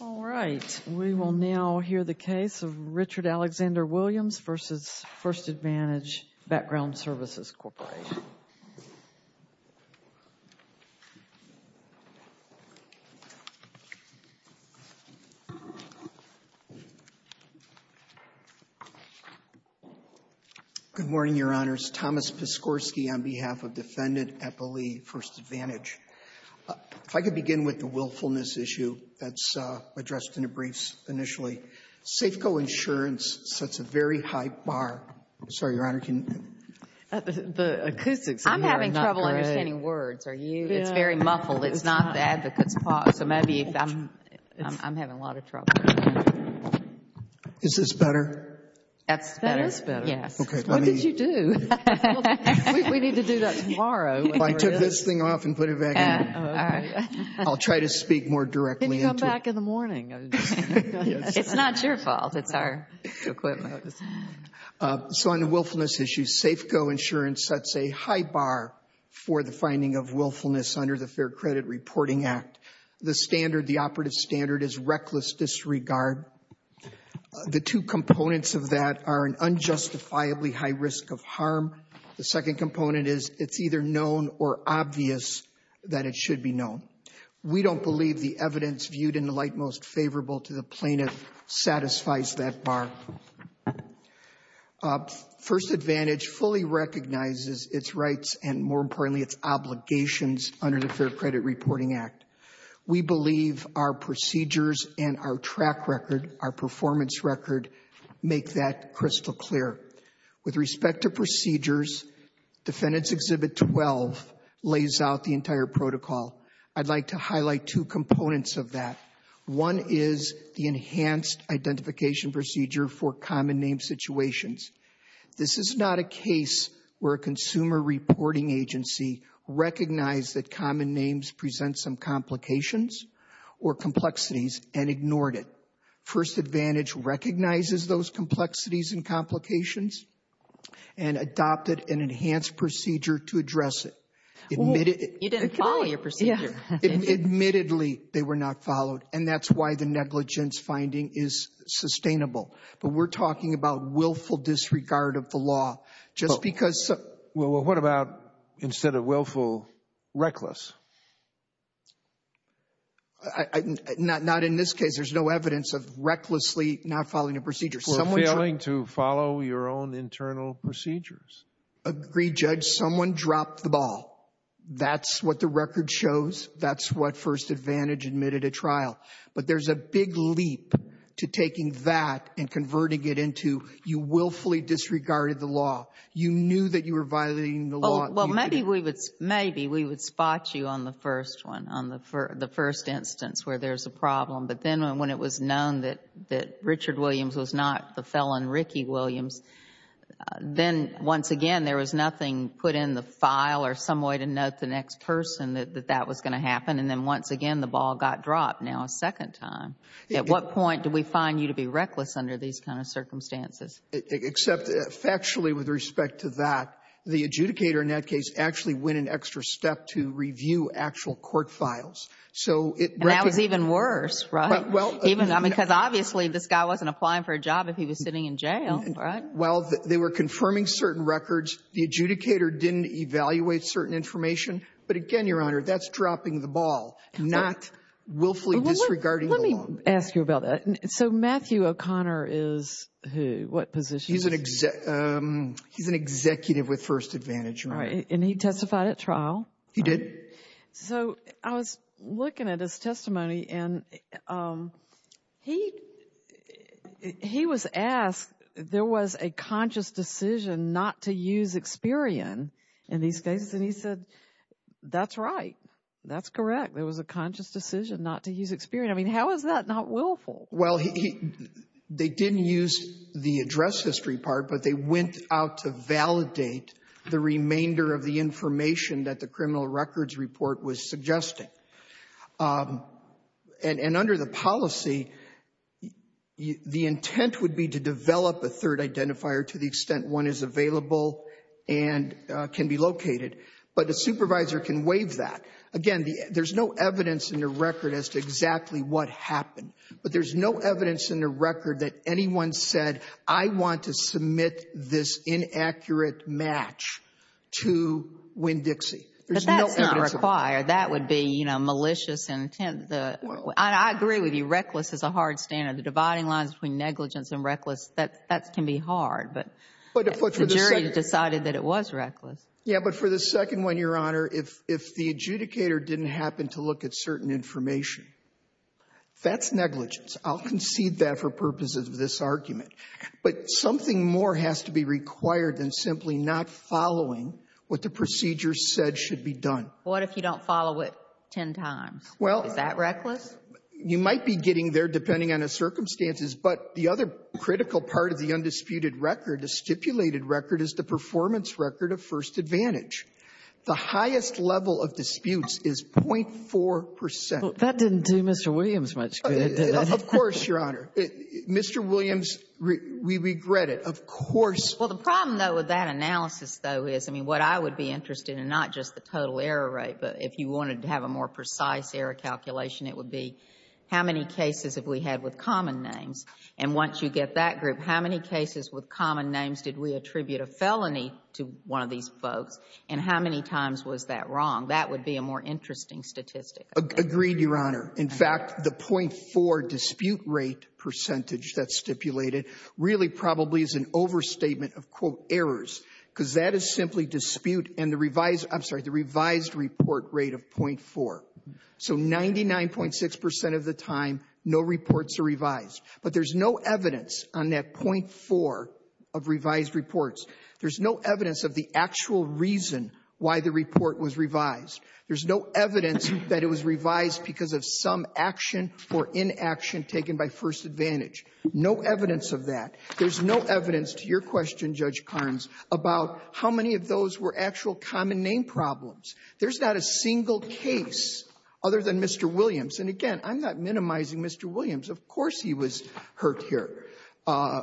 All right, we will now hear the case of Richard Alexander Williams v. First Advantage Background Your Honors, Thomas Piskorsky on behalf of Defendant Eppley, First Advantage. If I could begin with the willfulness issue that's addressed in the briefs initially. Safeco Insurance sets a very high bar. I'm sorry, Your Honor, can you ---- The acoustics here are not great. I'm having trouble understanding words. Are you? It's very muffled. It's not the advocate's part. So maybe I'm having a lot of trouble. Is this better? That's better. That is better. Yes. Okay. What did you do? We need to do that tomorrow. I took this thing off and put it back in. I'll try to speak more directly. You can come back in the morning. It's not your fault. It's our equipment. So on the willfulness issue, Safeco Insurance sets a high bar for the finding of willfulness under the Fair Credit Reporting Act. The standard, the operative standard, is reckless disregard. The two components of that are an unjustifiably high risk of harm. The second component is it's either known or obvious that it should be known. We don't believe the evidence viewed in the light most favorable to the plaintiff satisfies that bar. First advantage fully recognizes its rights and, more importantly, its obligations under the Fair Credit Reporting Act. We believe our procedures and our track record, our performance record, make that crystal clear. With respect to procedures, Defendant's Exhibit 12 lays out the entire protocol. I'd like to highlight two components of that. One is the enhanced identification procedure for common name situations. This is not a case where a consumer reporting agency recognized that common names present some complications or complexities and ignored it. First advantage recognizes those complexities and complications and adopted an enhanced procedure to address it. Admittedly, they were not followed, and that's why the negligence finding is sustainable. But we're talking about willful disregard of the law. Just because- Well, what about instead of willful, reckless? Not in this case. There's no evidence of recklessly not following a procedure. For failing to follow your own internal procedures. Agreed, Judge. Someone dropped the ball. That's what the record shows. That's what first advantage admitted at trial. But there's a big leap to taking that and converting it into you willfully disregarded the law. You knew that you were violating the law. Well, maybe we would spot you on the first one, on the first instance where there's a problem. But then when it was known that Richard Williams was not the felon, Ricky Williams, then once again there was nothing put in the file or some way to note the next person that that was going to happen. And then once again, the ball got dropped. Now a second time. At what point do we find you to be reckless under these kind of circumstances? Except factually with respect to that, the adjudicator in that case actually went an extra step to review actual court files. So it- And that was even worse, right? Well, even- I mean, because obviously this guy wasn't applying for a job if he was sitting in jail, right? Well, they were confirming certain records. The adjudicator didn't evaluate certain information. But again, Your Honor, that's dropping the ball, not willfully disregarding the law. Let me ask you about that. So Matthew O'Connor is who? What position? He's an executive with first advantage, Your Honor. All right. And he testified at trial? He did. So I was looking at his testimony and he was asked, there was a conscious decision not to use Experian in these cases. And he said, that's right. That's correct. There was a conscious decision not to use Experian. I mean, how is that not willful? Well, they didn't use the address history part, but they went out to validate the remainder of the information that the criminal records report was suggesting. And under the policy, the intent would be to develop a third identifier to the extent one is available and can be located. But the supervisor can waive that. Again, there's no evidence in the record as to exactly what happened. But there's no evidence in the record that anyone said, I want to submit this inaccurate match to Winn-Dixie. But that's not required. That would be, you know, malicious intent. I agree with you. Reckless is a hard standard. The dividing lines between negligence and reckless, that can be hard. But the jury decided that it was reckless. Yeah. But for the second one, Your Honor, if the adjudicator didn't happen to look at certain information, that's negligence. I'll concede that for purposes of this argument. But something more has to be required than simply not following what the procedure said should be done. What if you don't follow it ten times? Well — Is that reckless? You might be getting there depending on the circumstances. But the other critical part of the undisputed record, the stipulated record, is the performance record of first advantage. The highest level of disputes is 0.4 percent. That didn't do Mr. Williams much good, did it? Of course, Your Honor. Mr. Williams, we regret it. Of course — Well, the problem, though, with that analysis, though, is, I mean, what I would be interested in, not just the total error rate, but if you wanted to have a more precise error calculation, it would be how many cases have we had with common names? And once you get that group, how many cases with common names did we attribute a felony to one of these folks? And how many times was that wrong? That would be a more interesting statistic. Agreed, Your Honor. In fact, the 0.4 dispute rate percentage that's stipulated really probably is an overstatement of, quote, errors, because that is simply dispute and the revised — I'm sorry, the revised report rate of 0.4. So 99.6 percent of the time, no reports are revised. But there's no evidence on that 0.4 of revised reports. There's no evidence of the actual reason why the report was revised. There's no evidence that it was revised because of some action or inaction taken by first advantage. No evidence of that. There's no evidence, to your question, Judge Carnes, about how many of those were actual common name problems. There's not a single case other than Mr. Williams. And, again, I'm not minimizing Mr. Williams. Of course he was hurt here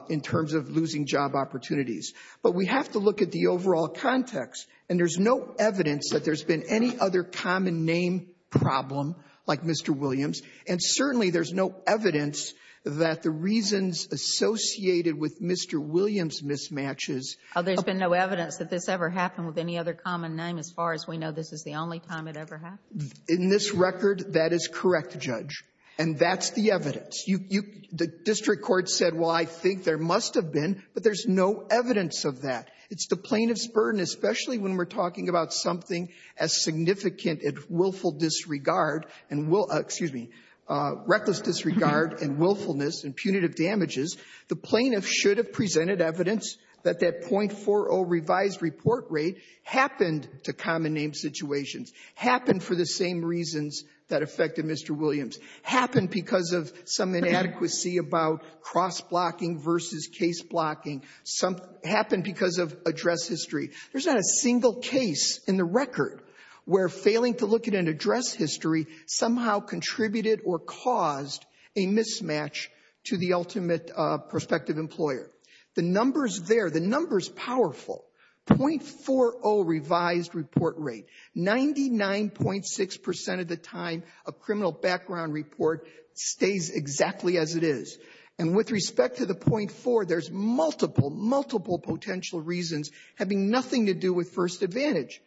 in terms of losing job opportunities. But we have to look at the overall context. And there's no evidence that there's been any other common name problem like Mr. Williams. And certainly there's no evidence that the reasons associated with Mr. Williams' mismatches — Oh, there's been no evidence that this ever happened with any other common name, as far as we know, this is the only time it ever happened? In this record, that is correct, Judge. And that's the evidence. You — the district court said, well, I think there must have been, but there's no evidence of that. It's the plaintiff's burden, especially when we're talking about something as significant as willful disregard and — excuse me — reckless disregard and willfulness and punitive damages. The plaintiff should have presented evidence that that 0.40 revised report rate happened to common name situations. Happened for the same reasons that affected Mr. Williams. Happened because of some inadequacy about cross-blocking versus case-blocking. Some — happened because of address history. There's not a single case in the record where failing to look at an address history somehow contributed or caused a mismatch to the ultimate prospective employer. The number's there. The number's powerful. 0.40 revised report rate. 99.6 percent of the time a criminal background report stays exactly as it is. And with respect to the 0.40, there's multiple, multiple potential reasons having nothing to do with first advantage.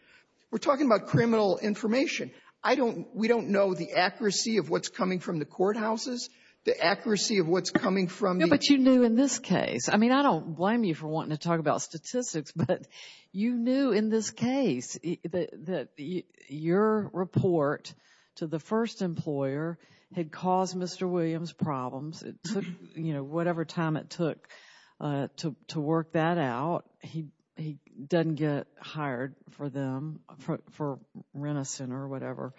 We're talking about criminal information. I don't — we don't know the accuracy of what's coming from the courthouses, the accuracy of what's coming from the — No, but you knew in this case. I mean, I don't blame you for wanting to talk about statistics, but you knew in this case that your report to the first employer had caused Mr. Williams problems. It took, you know, whatever time it took to work that out. He doesn't get hired for them, for Renison or whatever.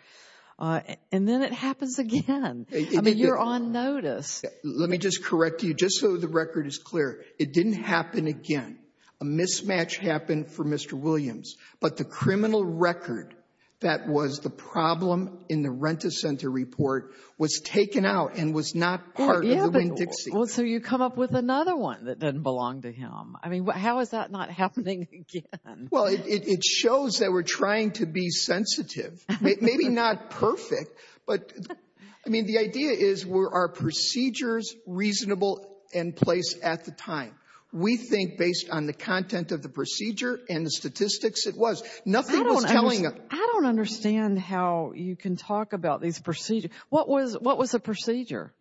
And then it happens again. I mean, you're on notice. Let me just correct you, just so the record is clear. It didn't happen again. A mismatch happened for Mr. Williams. But the criminal record that was the problem in the Rent-A-Center report was taken out and was not part of the Winn-Dixie. Well, so you come up with another one that doesn't belong to him. I mean, how is that not happening again? Well, it shows that we're trying to be sensitive. Maybe not perfect, but — I mean, the idea is, were our procedures reasonable in place at the time? We think, based on the content of the procedure and the statistics, it was. Nothing was telling us — I don't understand how you can talk about these procedures. What was the procedure?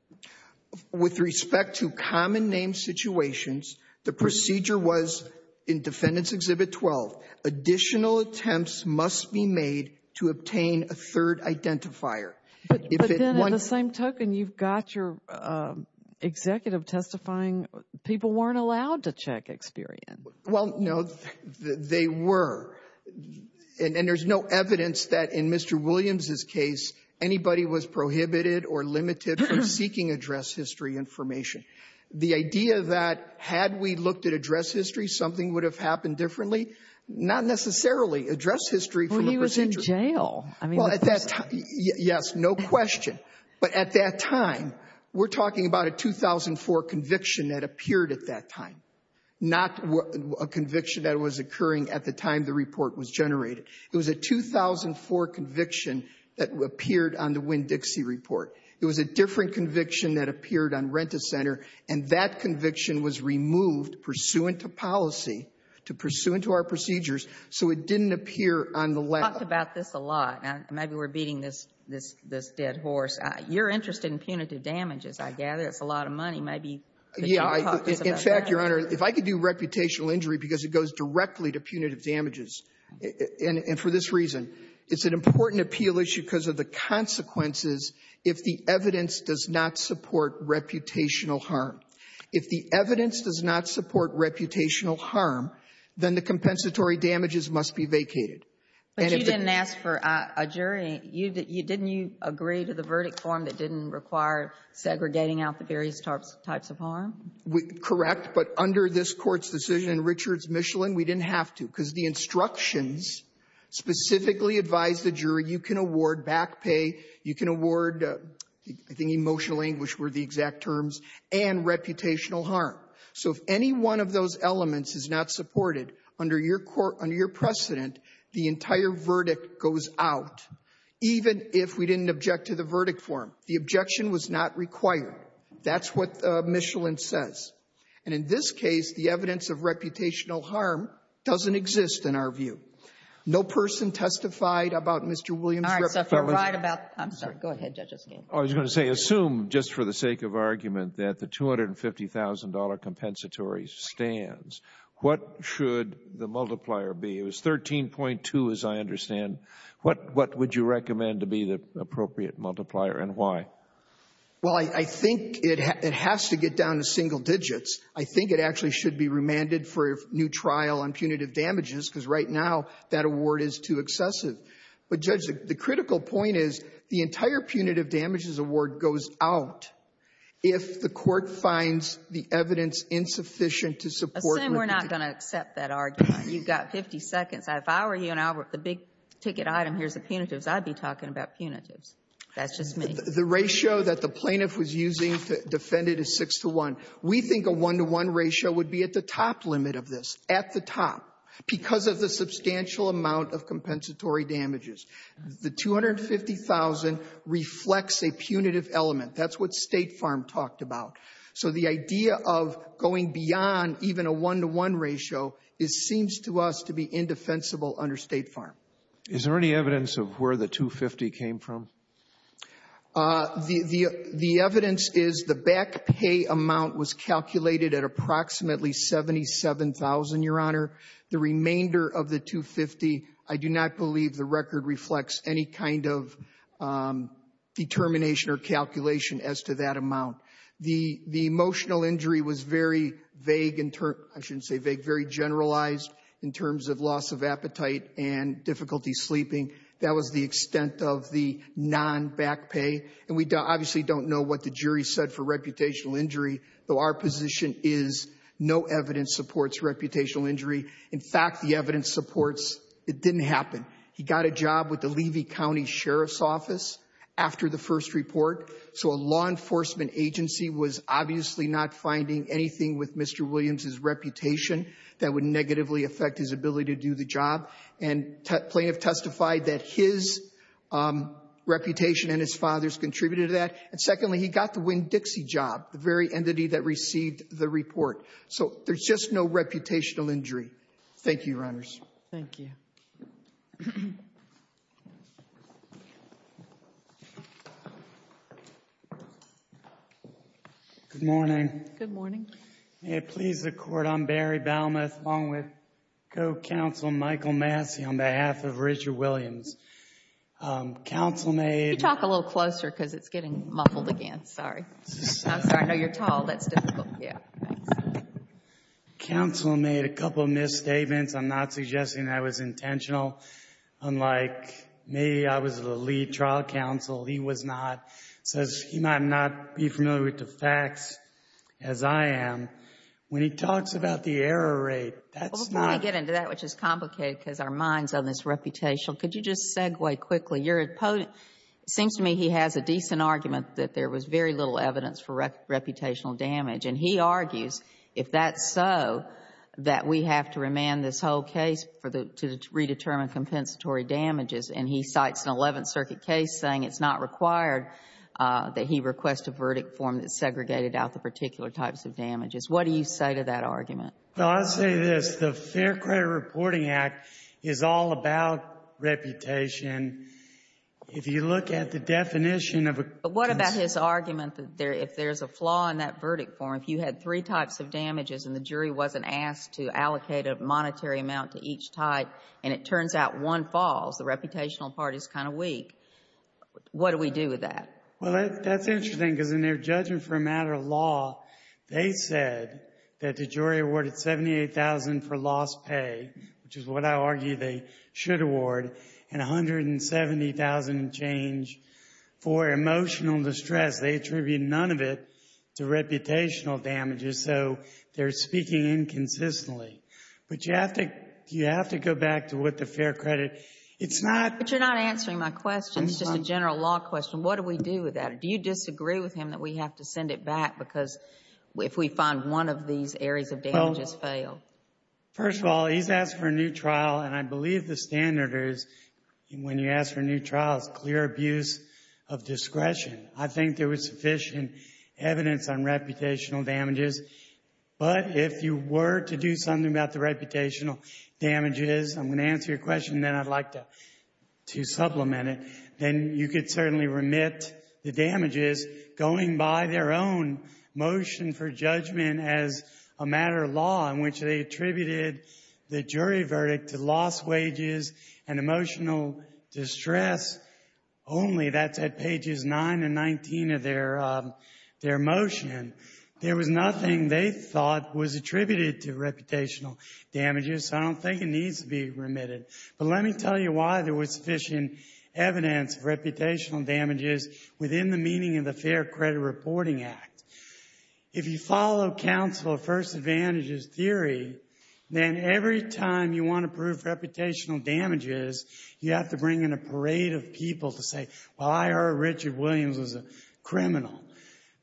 With respect to common name situations, the procedure was, in Defendant's Exhibit 12, additional attempts must be made to obtain a third identifier. But then in the same token, you've got your executive testifying. People weren't allowed to check Experian. Well, no, they were. And there's no evidence that, in Mr. Williams' case, anybody was prohibited or limited from seeking address history information. The idea that, had we looked at address history, something would have happened differently — not necessarily. Address history from the procedure — Well, he was in jail. Well, at that time — yes, no question. But at that time, we're talking about a 2004 conviction that appeared at that time, not a conviction that was occurring at the time the report was generated. It was a 2004 conviction that appeared on the Winn-Dixie report. It was a different conviction that appeared on Rent-A-Center, and that conviction was removed pursuant to policy, to pursuant to our procedures, so it didn't appear on the — We've talked about this a lot. Maybe we're beating this dead horse. You're interested in punitive damages, I gather. It's a lot of money. Maybe you can talk to us about that. In fact, Your Honor, if I could do reputational injury because it goes directly to punitive damages, and for this reason, it's an important appeal issue because of the consequences if the evidence does not support reputational harm. If the evidence does not support reputational harm, then the compensatory damages must be vacated. But you didn't ask for a jury. You — didn't you agree to the verdict form that didn't require segregating out the various types of harm? Correct. But under this Court's decision in Richards-Michelin, we didn't have to because the instructions specifically advised the jury you can award back pay, you can award — I think emotional anguish were the exact terms — and reputational harm. So if any one of those elements is not supported under your court — under your verdict goes out, even if we didn't object to the verdict form. The objection was not required. That's what Michelin says. And in this case, the evidence of reputational harm doesn't exist, in our view. No person testified about Mr. Williams' — All right. So if you're right about — I'm sorry. Go ahead, Judge O'Keefe. I was going to say, assume, just for the sake of argument, that the $250,000 compensatory stands. What should the multiplier be? It was 13.2, as I understand. What would you recommend to be the appropriate multiplier and why? Well, I think it has to get down to single digits. I think it actually should be remanded for a new trial on punitive damages, because right now that award is too excessive. But, Judge, the critical point is the entire punitive damages award goes out if the court finds the evidence insufficient to support — Assume we're not going to accept that argument. You've got 50 seconds. If I were you and I were the big-ticket item, here's the punitives, I'd be talking about punitives. That's just me. The ratio that the plaintiff was using to defend it is 6-to-1. We think a 1-to-1 ratio would be at the top limit of this, at the top, because of the substantial amount of compensatory damages. The $250,000 reflects a punitive element. That's what State Farm talked about. So the idea of going beyond even a 1-to-1 ratio, it seems to us to be indefensible under State Farm. Is there any evidence of where the $250,000 came from? The evidence is the back pay amount was calculated at approximately $77,000, Your Honor. The remainder of the $250,000, I do not believe the record reflects any kind of determination or calculation as to that amount. The emotional injury was very vague, I shouldn't say vague, very generalized in terms of loss of appetite and difficulty sleeping. That was the extent of the non-back pay. And we obviously don't know what the jury said for reputational injury, though our position is no evidence supports reputational injury. In fact, the evidence supports it didn't happen. He got a job with the Levy County Sheriff's Office after the first report. So a law enforcement agency was obviously not finding anything with Mr. Williams' reputation that would negatively affect his ability to do the job. And plaintiff testified that his reputation and his father's contributed to that. And secondly, he got the Winn-Dixie job, the very entity that received the report. So there's just no reputational injury. Thank you, Your Honors. Thank you. Good morning. Good morning. May it please the Court. I'm Barry Balmuth along with co-counsel Michael Massey on behalf of Richard Williams. Counsel made... You talk a little closer because it's getting muffled again. Sorry. I'm sorry. No, you're tall. That's difficult. Yeah. Counsel made a couple misstatements. I'm not suggesting that was intentional. Unlike me, I was the lead trial counsel. He was not. So he might not be familiar with the facts as I am. When he talks about the error rate, that's not... Before we get into that, which is complicated because our mind's on this reputational, could you just segue quickly? Your opponent, it seems to me he has a decent argument that there was very little evidence for reputational damage. And he argues, if that's so, that we have to remand this whole case to redetermine compensatory damages. And he cites an 11th Circuit case saying it's not required that he request a verdict form that segregated out the particular types of damages. What do you say to that argument? Well, I'll say this. The Fair Credit Reporting Act is all about reputation. If you look at the definition of a... But what about his argument that if there's a flaw in that verdict form, if you had three types of damages and the jury wasn't asked to allocate a monetary amount to each type and it turns out one falls, the reputational part is kind of weak, what do we do with that? Well, that's interesting because in their judgment for a matter of law, they said that the jury awarded $78,000 for lost pay, which is what I argue they should award, and $170,000 change for emotional distress. They attribute none of it to reputational damages. So they're speaking inconsistently. But you have to go back to what the Fair Credit... It's not... But you're not answering my question. It's just a general law question. What do we do with that? Do you disagree with him that we have to send it back because if we find one of these areas of damages fail? First of all, he's asked for a new trial, and I believe the standard is when you ask for a new trial, it's clear abuse of discretion. I think there was sufficient evidence on reputational damages. But if you were to do something about the reputational damages, I'm going to answer your question, and then I'd like to supplement it, then you could certainly remit the damages going by their own motion for judgment as a matter of law in which they attributed the jury verdict to lost wages and emotional distress only. That's at pages 9 and 19 of their motion. There was nothing they thought was attributed to reputational damages, so I don't think it needs to be remitted. But let me tell you why there was sufficient evidence of reputational damages within the meaning of the Fair Credit Reporting Act. If you follow counsel of first advantages theory, then every time you want to prove reputational damages, you have to bring in a parade of people to say, well, I heard Richard Williams was a criminal.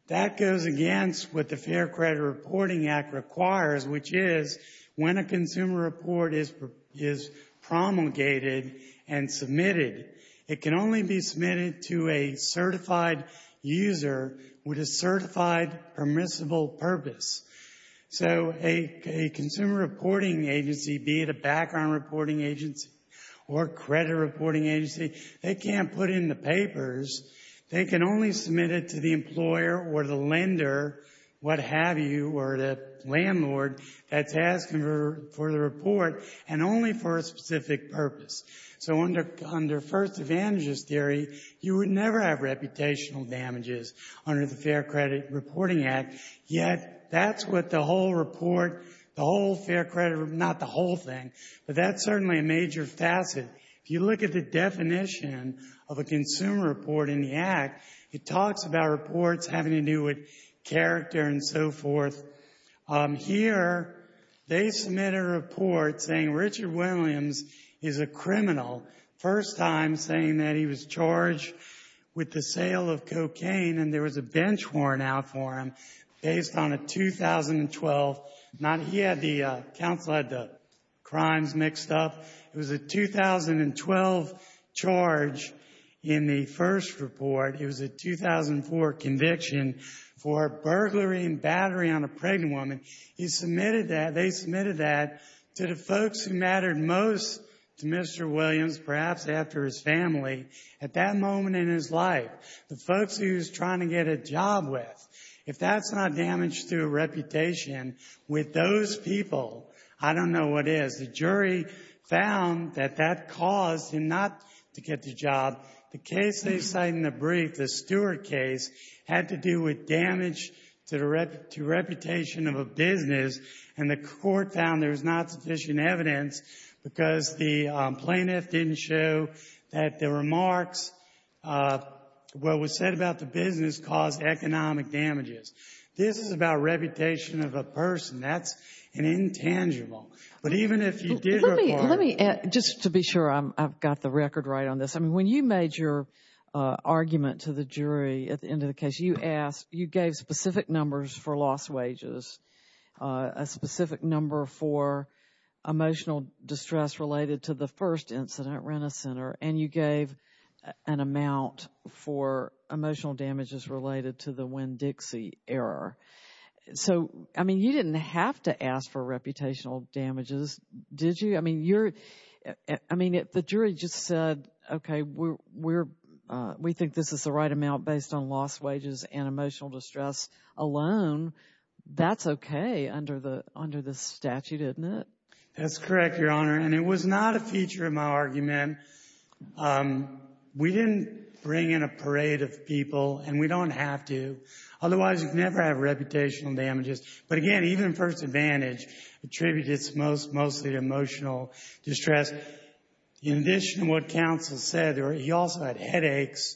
That goes against what the Fair Credit Reporting Act requires, which is when a consumer report is promulgated and submitted, it can only be submitted to a certified user with a certified permissible purpose. So a consumer reporting agency, be it a background reporting agency or credit reporting agency, they can't put in the papers. They can only submit it to the employer or the lender, what have you, or the landlord that's asking for the report and only for a specific purpose. So under first advantages theory, you would never have reputational damages under the Fair Credit Reporting Act, yet that's what the whole report, the whole Fair Credit Report, not the whole thing, but that's certainly a major facet. If you look at the definition of a consumer report in the Act, it talks about reports having to do with character and so forth. Here, they submit a report saying Richard Williams is a criminal, first time saying that he was charged with the sale of cocaine and there was a bench warrant out for him based on a 2012, not, he had the, counsel had the crimes mixed up. It was a 2012 charge in the first report. It was a 2004 conviction for burglary and battery on a pregnant woman. He submitted that, they submitted that to the folks who mattered most to Mr. Williams, perhaps after his family, at that moment in his life, the folks he was trying to get a job with. If that's not damage to a reputation with those people, I don't know what is. The jury found that that caused him not to get the job. The case they cite in the brief, the Stewart case, had to do with damage to the reputation of a business and the court found there was not sufficient evidence because the plaintiff didn't show that the remarks, what was said about the business, caused economic damages. This is about reputation of a person. That's an intangible. But even if you did require... Let me, just to be sure I've got the record right on this. I mean, when you made your argument to the jury at the end of the case, you asked, you gave specific numbers for lost wages, a specific number for emotional distress related to the first incident, Rent-A-Center, and you gave an amount for emotional damages related to the Winn-Dixie error. So, I mean, you didn't have to ask for reputational damages, did you? I mean, the jury just said, okay, we think this is the right amount based on lost wages and emotional distress alone. That's okay under the statute, isn't it? That's correct, Your Honor, and it was not a feature of my argument. We didn't bring in a parade of people, and we don't have to. Otherwise, you can never have reputational damages. But again, even first advantage attributed mostly to emotional distress. In addition to what counsel said, he also had headaches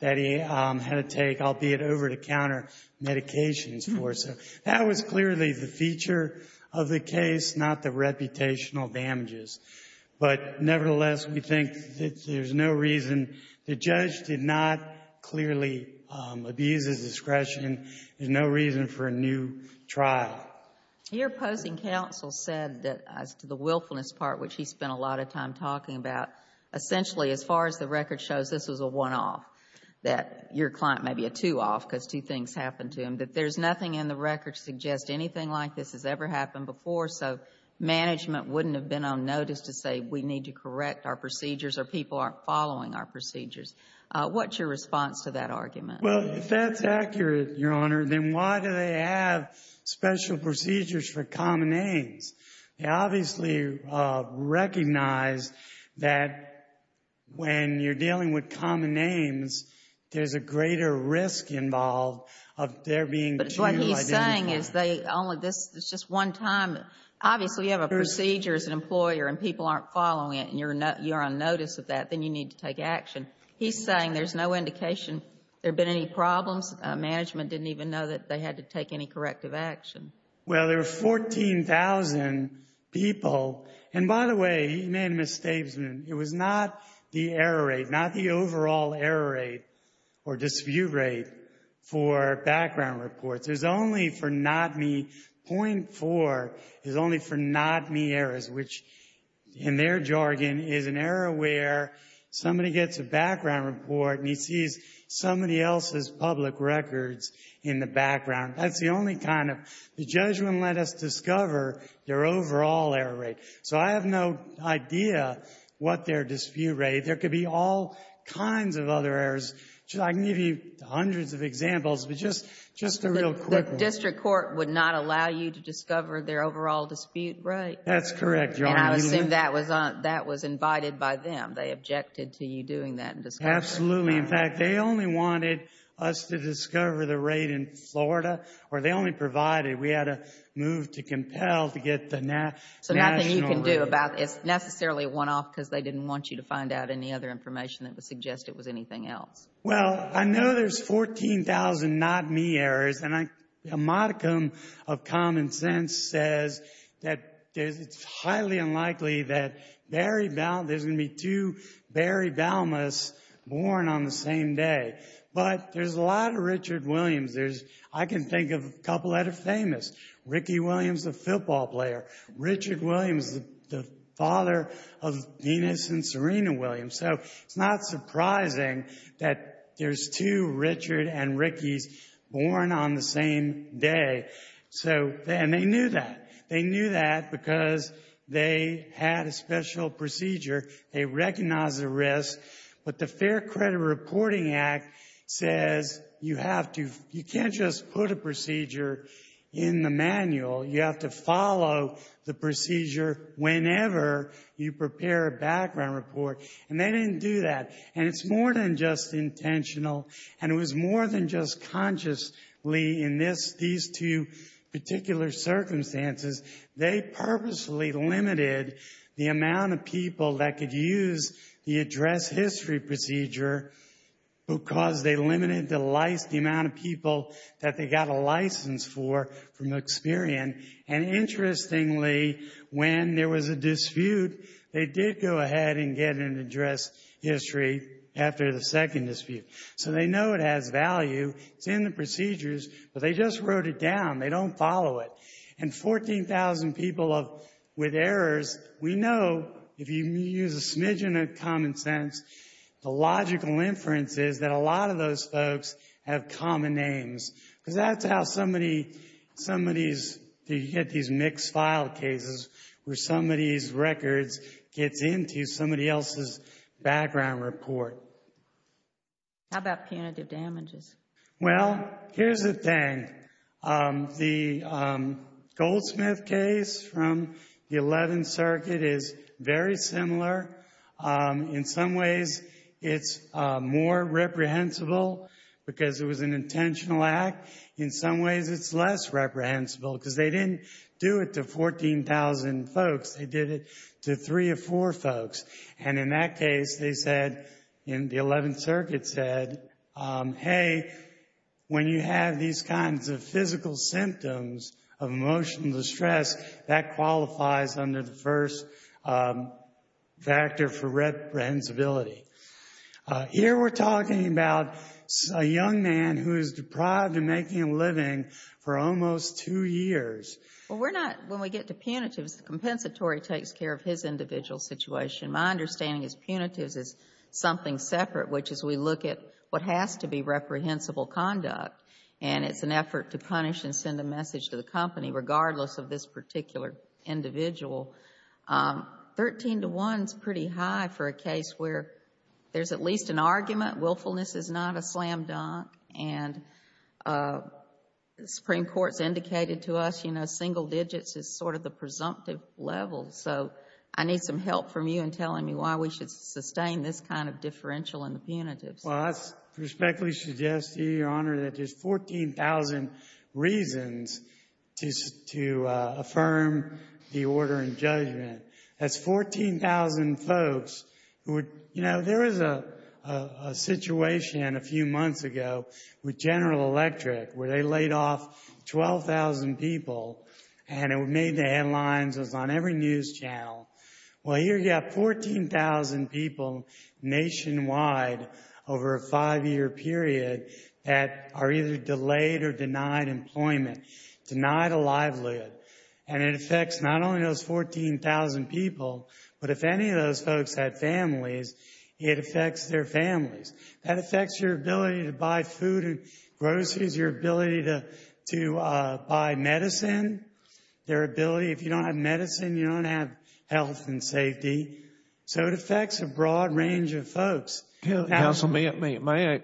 that he had to take, albeit over-the-counter medications for. So that was clearly the feature of the case, not the reputational damages. But nevertheless, we think that there's no reason. The judge did not clearly abuse his discretion. There's no reason for a new trial. Your opposing counsel said that, as to the willfulness part, which he spent a lot of time talking about, essentially, as far as the record shows, this was a one-off, that your client may be a two-off because two things happened to him, that there's nothing in the record to suggest anything like this has ever happened before. So management wouldn't have been on notice to say we need to correct our procedures or people aren't following our procedures. What's your response to that argument? Well, if that's accurate, Your Honor, then why do they have special procedures for common names? They obviously recognize that when you're dealing with common names, there's a greater risk involved of there being two identities. But what he's saying is they only, this is just one time. Obviously, you have a procedure as an employer, and people aren't following it, and you're on notice of that, then you need to take action. He's saying there's no indication there have been any problems. Management didn't even know that they had to take any corrective action. Well, there were 14,000 people. And by the way, he made a misstatement. It was not the error rate, not the overall error rate or dispute rate for background reports. It was only for not-me, 0.4 is only for not-me errors, which, in their jargon, is an error where somebody gets a background report and he sees somebody else's public records in the background. That's the only kind of, the judgment let us discover their overall error rate. So I have no idea what their dispute rate. There could be all kinds of other errors. I can give you hundreds of examples, but just a real quick one. The district court would not allow you to discover their overall dispute rate? That's correct, Your Honor. And I assume that was invited by them. They objected to you doing that. Absolutely. In fact, they only wanted us to discover the rate in Florida, or they only provided we had to move to compel to get the national rate. So nothing you can do about, it's necessarily one-off because they didn't want you to find out any other information that would suggest it was anything else. Well, I know there's 14,000 not-me errors. A modicum of common sense says that it's highly unlikely that there's going to be two Barry Balmas born on the same day. But there's a lot of Richard Williams. I can think of a couple that are famous. Ricky Williams, the football player. Richard Williams, the father of Venus and Serena Williams. So it's not surprising that there's two Richard and Rickies born on the same day. And they knew that. They knew that because they had a special procedure. They recognized the risk. But the Fair Credit Reporting Act says you have to, you can't just put a procedure in the manual. You have to follow the procedure whenever you prepare a background report. And they didn't do that. And it's more than just intentional. And it was more than just consciously in these two particular circumstances. They purposely limited the amount of people that could use the address history procedure because they limited the amount of people that they got a license for from Experian. And interestingly, when there was a dispute, they did go ahead and get an address history after the second dispute. So they know it has value. It's in the procedures. But they just wrote it down. They don't follow it. And 14,000 people with errors, we know if you use a smidgen of common sense, the logical inference is that a lot of those folks have common names. Because that's how somebody, somebody's, you get these mixed file cases where somebody's records gets into somebody else's background report. How about punitive damages? Well, here's the thing. The Goldsmith case from the 11th Circuit is very similar. In some ways, it's more reprehensible because it was an intentional act. In some ways, it's less reprehensible because they didn't do it to 14,000 folks. They did it to three or four folks. And in that case, they said, in the 11th Circuit said, hey, when you have these kinds of physical symptoms of emotional distress, that qualifies under the first factor for reprehensibility. Here we're talking about a young man who is deprived of making a living for almost two years. Well, we're not, when we get to punitives, the compensatory takes care of his individual situation. My understanding is punitives is something separate, which is we look at what has to be reprehensible conduct. And it's an effort to punish and send a message to the company, regardless of this particular individual. 13 to 1 is pretty high for a case where there's at least an argument. Willfulness is not a slam dunk. And the Supreme Court has indicated to us, you know, single digits is sort of the presumptive level. So I need some help from you in telling me why we should sustain this kind of differential in the punitives. Well, I respectfully suggest to you, Your Honor, that there's 14,000 reasons to affirm the order and judgment. That's 14,000 folks who would, you know, there was a situation a few months ago with General Electric, where they laid off 12,000 people. And it made the headlines, it was on every news channel. Well, here you have 14,000 people nationwide over a five-year period that are either delayed or denied employment, denied a livelihood. And it affects not only those 14,000 people, but if any of those folks had families, it affects their families. That affects your ability to buy food and groceries, your ability to buy medicine, their ability. If you don't have medicine, you don't have health and safety. So it affects a broad range of folks. Counsel, may I,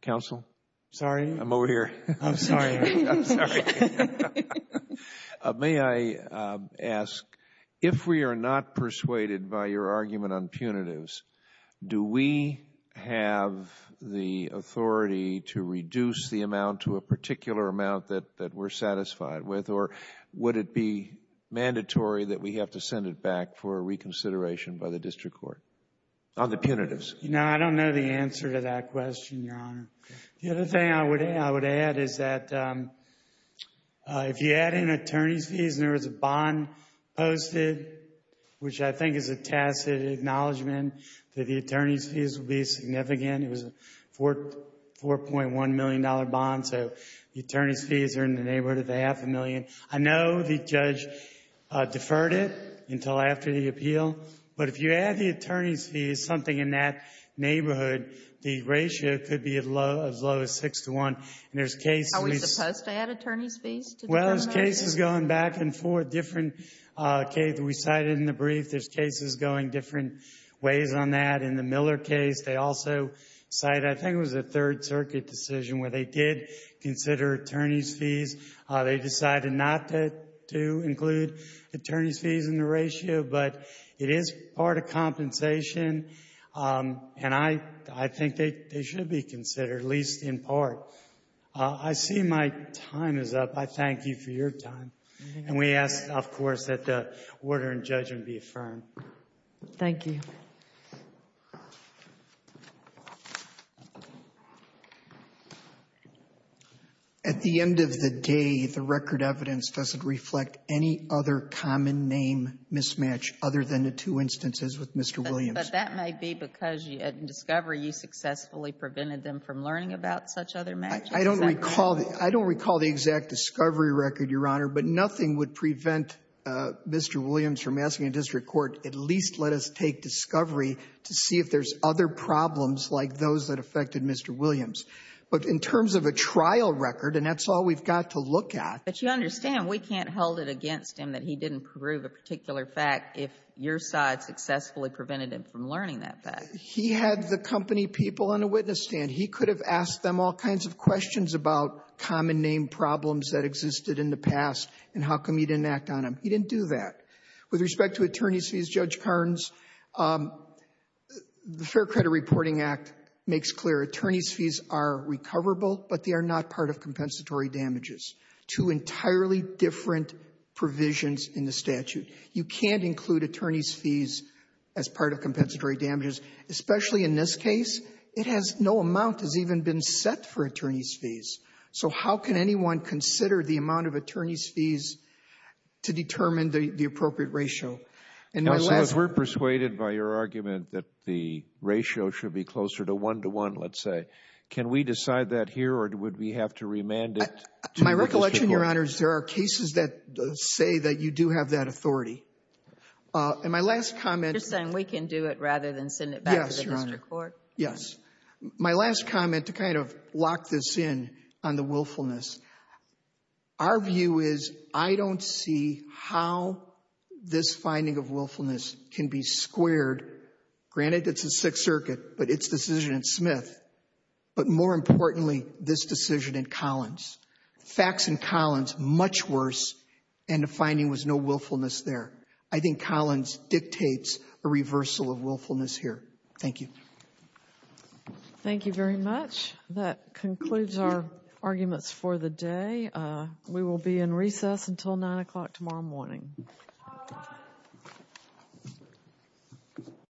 counsel? Sorry. I'm over here. I'm sorry. May I ask, if we are not persuaded by your argument on punitives, do we have the authority to reduce the amount to a particular amount that we're satisfied with? Or would it be mandatory that we have to send it back for reconsideration by the district court on the punitives? You know, I don't know the answer to that question, Your Honor. The other thing I would add is that if you add in attorney's fees and there was a bond posted, which I think is a tacit acknowledgement that the attorney's fees will be significant. It was a $4.1 million bond. So the attorney's fees are in the neighborhood of half a million. I know the judge deferred it until after the appeal. But if you add the attorney's fees, something in that neighborhood, the ratio could be as low as 6 to 1. And there's cases... Are we supposed to add attorney's fees to the determination? Well, there's cases going back and forth, different cases we cited in the brief. There's cases going different ways on that. In the Miller case, they also cited, I think it was a Third Circuit decision where they did consider attorney's fees. They decided not to include attorney's fees in the ratio. But it is part of compensation. And I think they should be considered, at least in part. I see my time is up. I thank you for your time. And we ask, of course, that the order in judgment be affirmed. Thank you. At the end of the day, the record evidence doesn't reflect any other common name mismatch other than the two instances with Mr. Williams. But that may be because in discovery, you successfully prevented them from learning about such other matches. I don't recall the exact discovery record, Your Honor. But nothing would prevent Mr. Williams from asking a district court, at least let us take discovery to see if there's other problems like those that affected Mr. Williams. But in terms of a trial record, and that's all we've got to look at. But you understand we can't hold it against him that he didn't prove a particular fact if your side successfully prevented him from learning that fact. He had the company people on the witness stand. He could have asked them all kinds of questions about common name problems that existed in the past and how come he didn't act on them. He didn't do that. With respect to attorney's fees, Judge Carnes, the Fair Credit Reporting Act makes clear attorney's fees are recoverable, but they are not part of compensatory damages. Two entirely different provisions in the statute. You can't include attorney's fees as part of compensatory damages, especially in this case. It has no amount has even been set for attorney's fees. So how can anyone consider the amount of attorney's fees to determine the appropriate ratio? And we're persuaded by your argument that the ratio should be closer to one-to-one, let's say. Can we decide that here or would we have to remand it to the history court? My recollection, Your Honor, is there are cases that say that you do have that authority. And my last comment — You're saying we can do it rather than send it back to the history court? Yes. My last comment to kind of lock this in on the willfulness, our view is I don't see how this finding of willfulness can be squared. Granted, it's the Sixth Circuit, but its decision in Smith, but more importantly, this decision in Collins. Facts in Collins, much worse, and the finding was no willfulness there. I think Collins dictates a reversal of willfulness here. Thank you. Thank you very much. That concludes our arguments for the day. We will be in recess until 9 o'clock tomorrow morning. Thank you.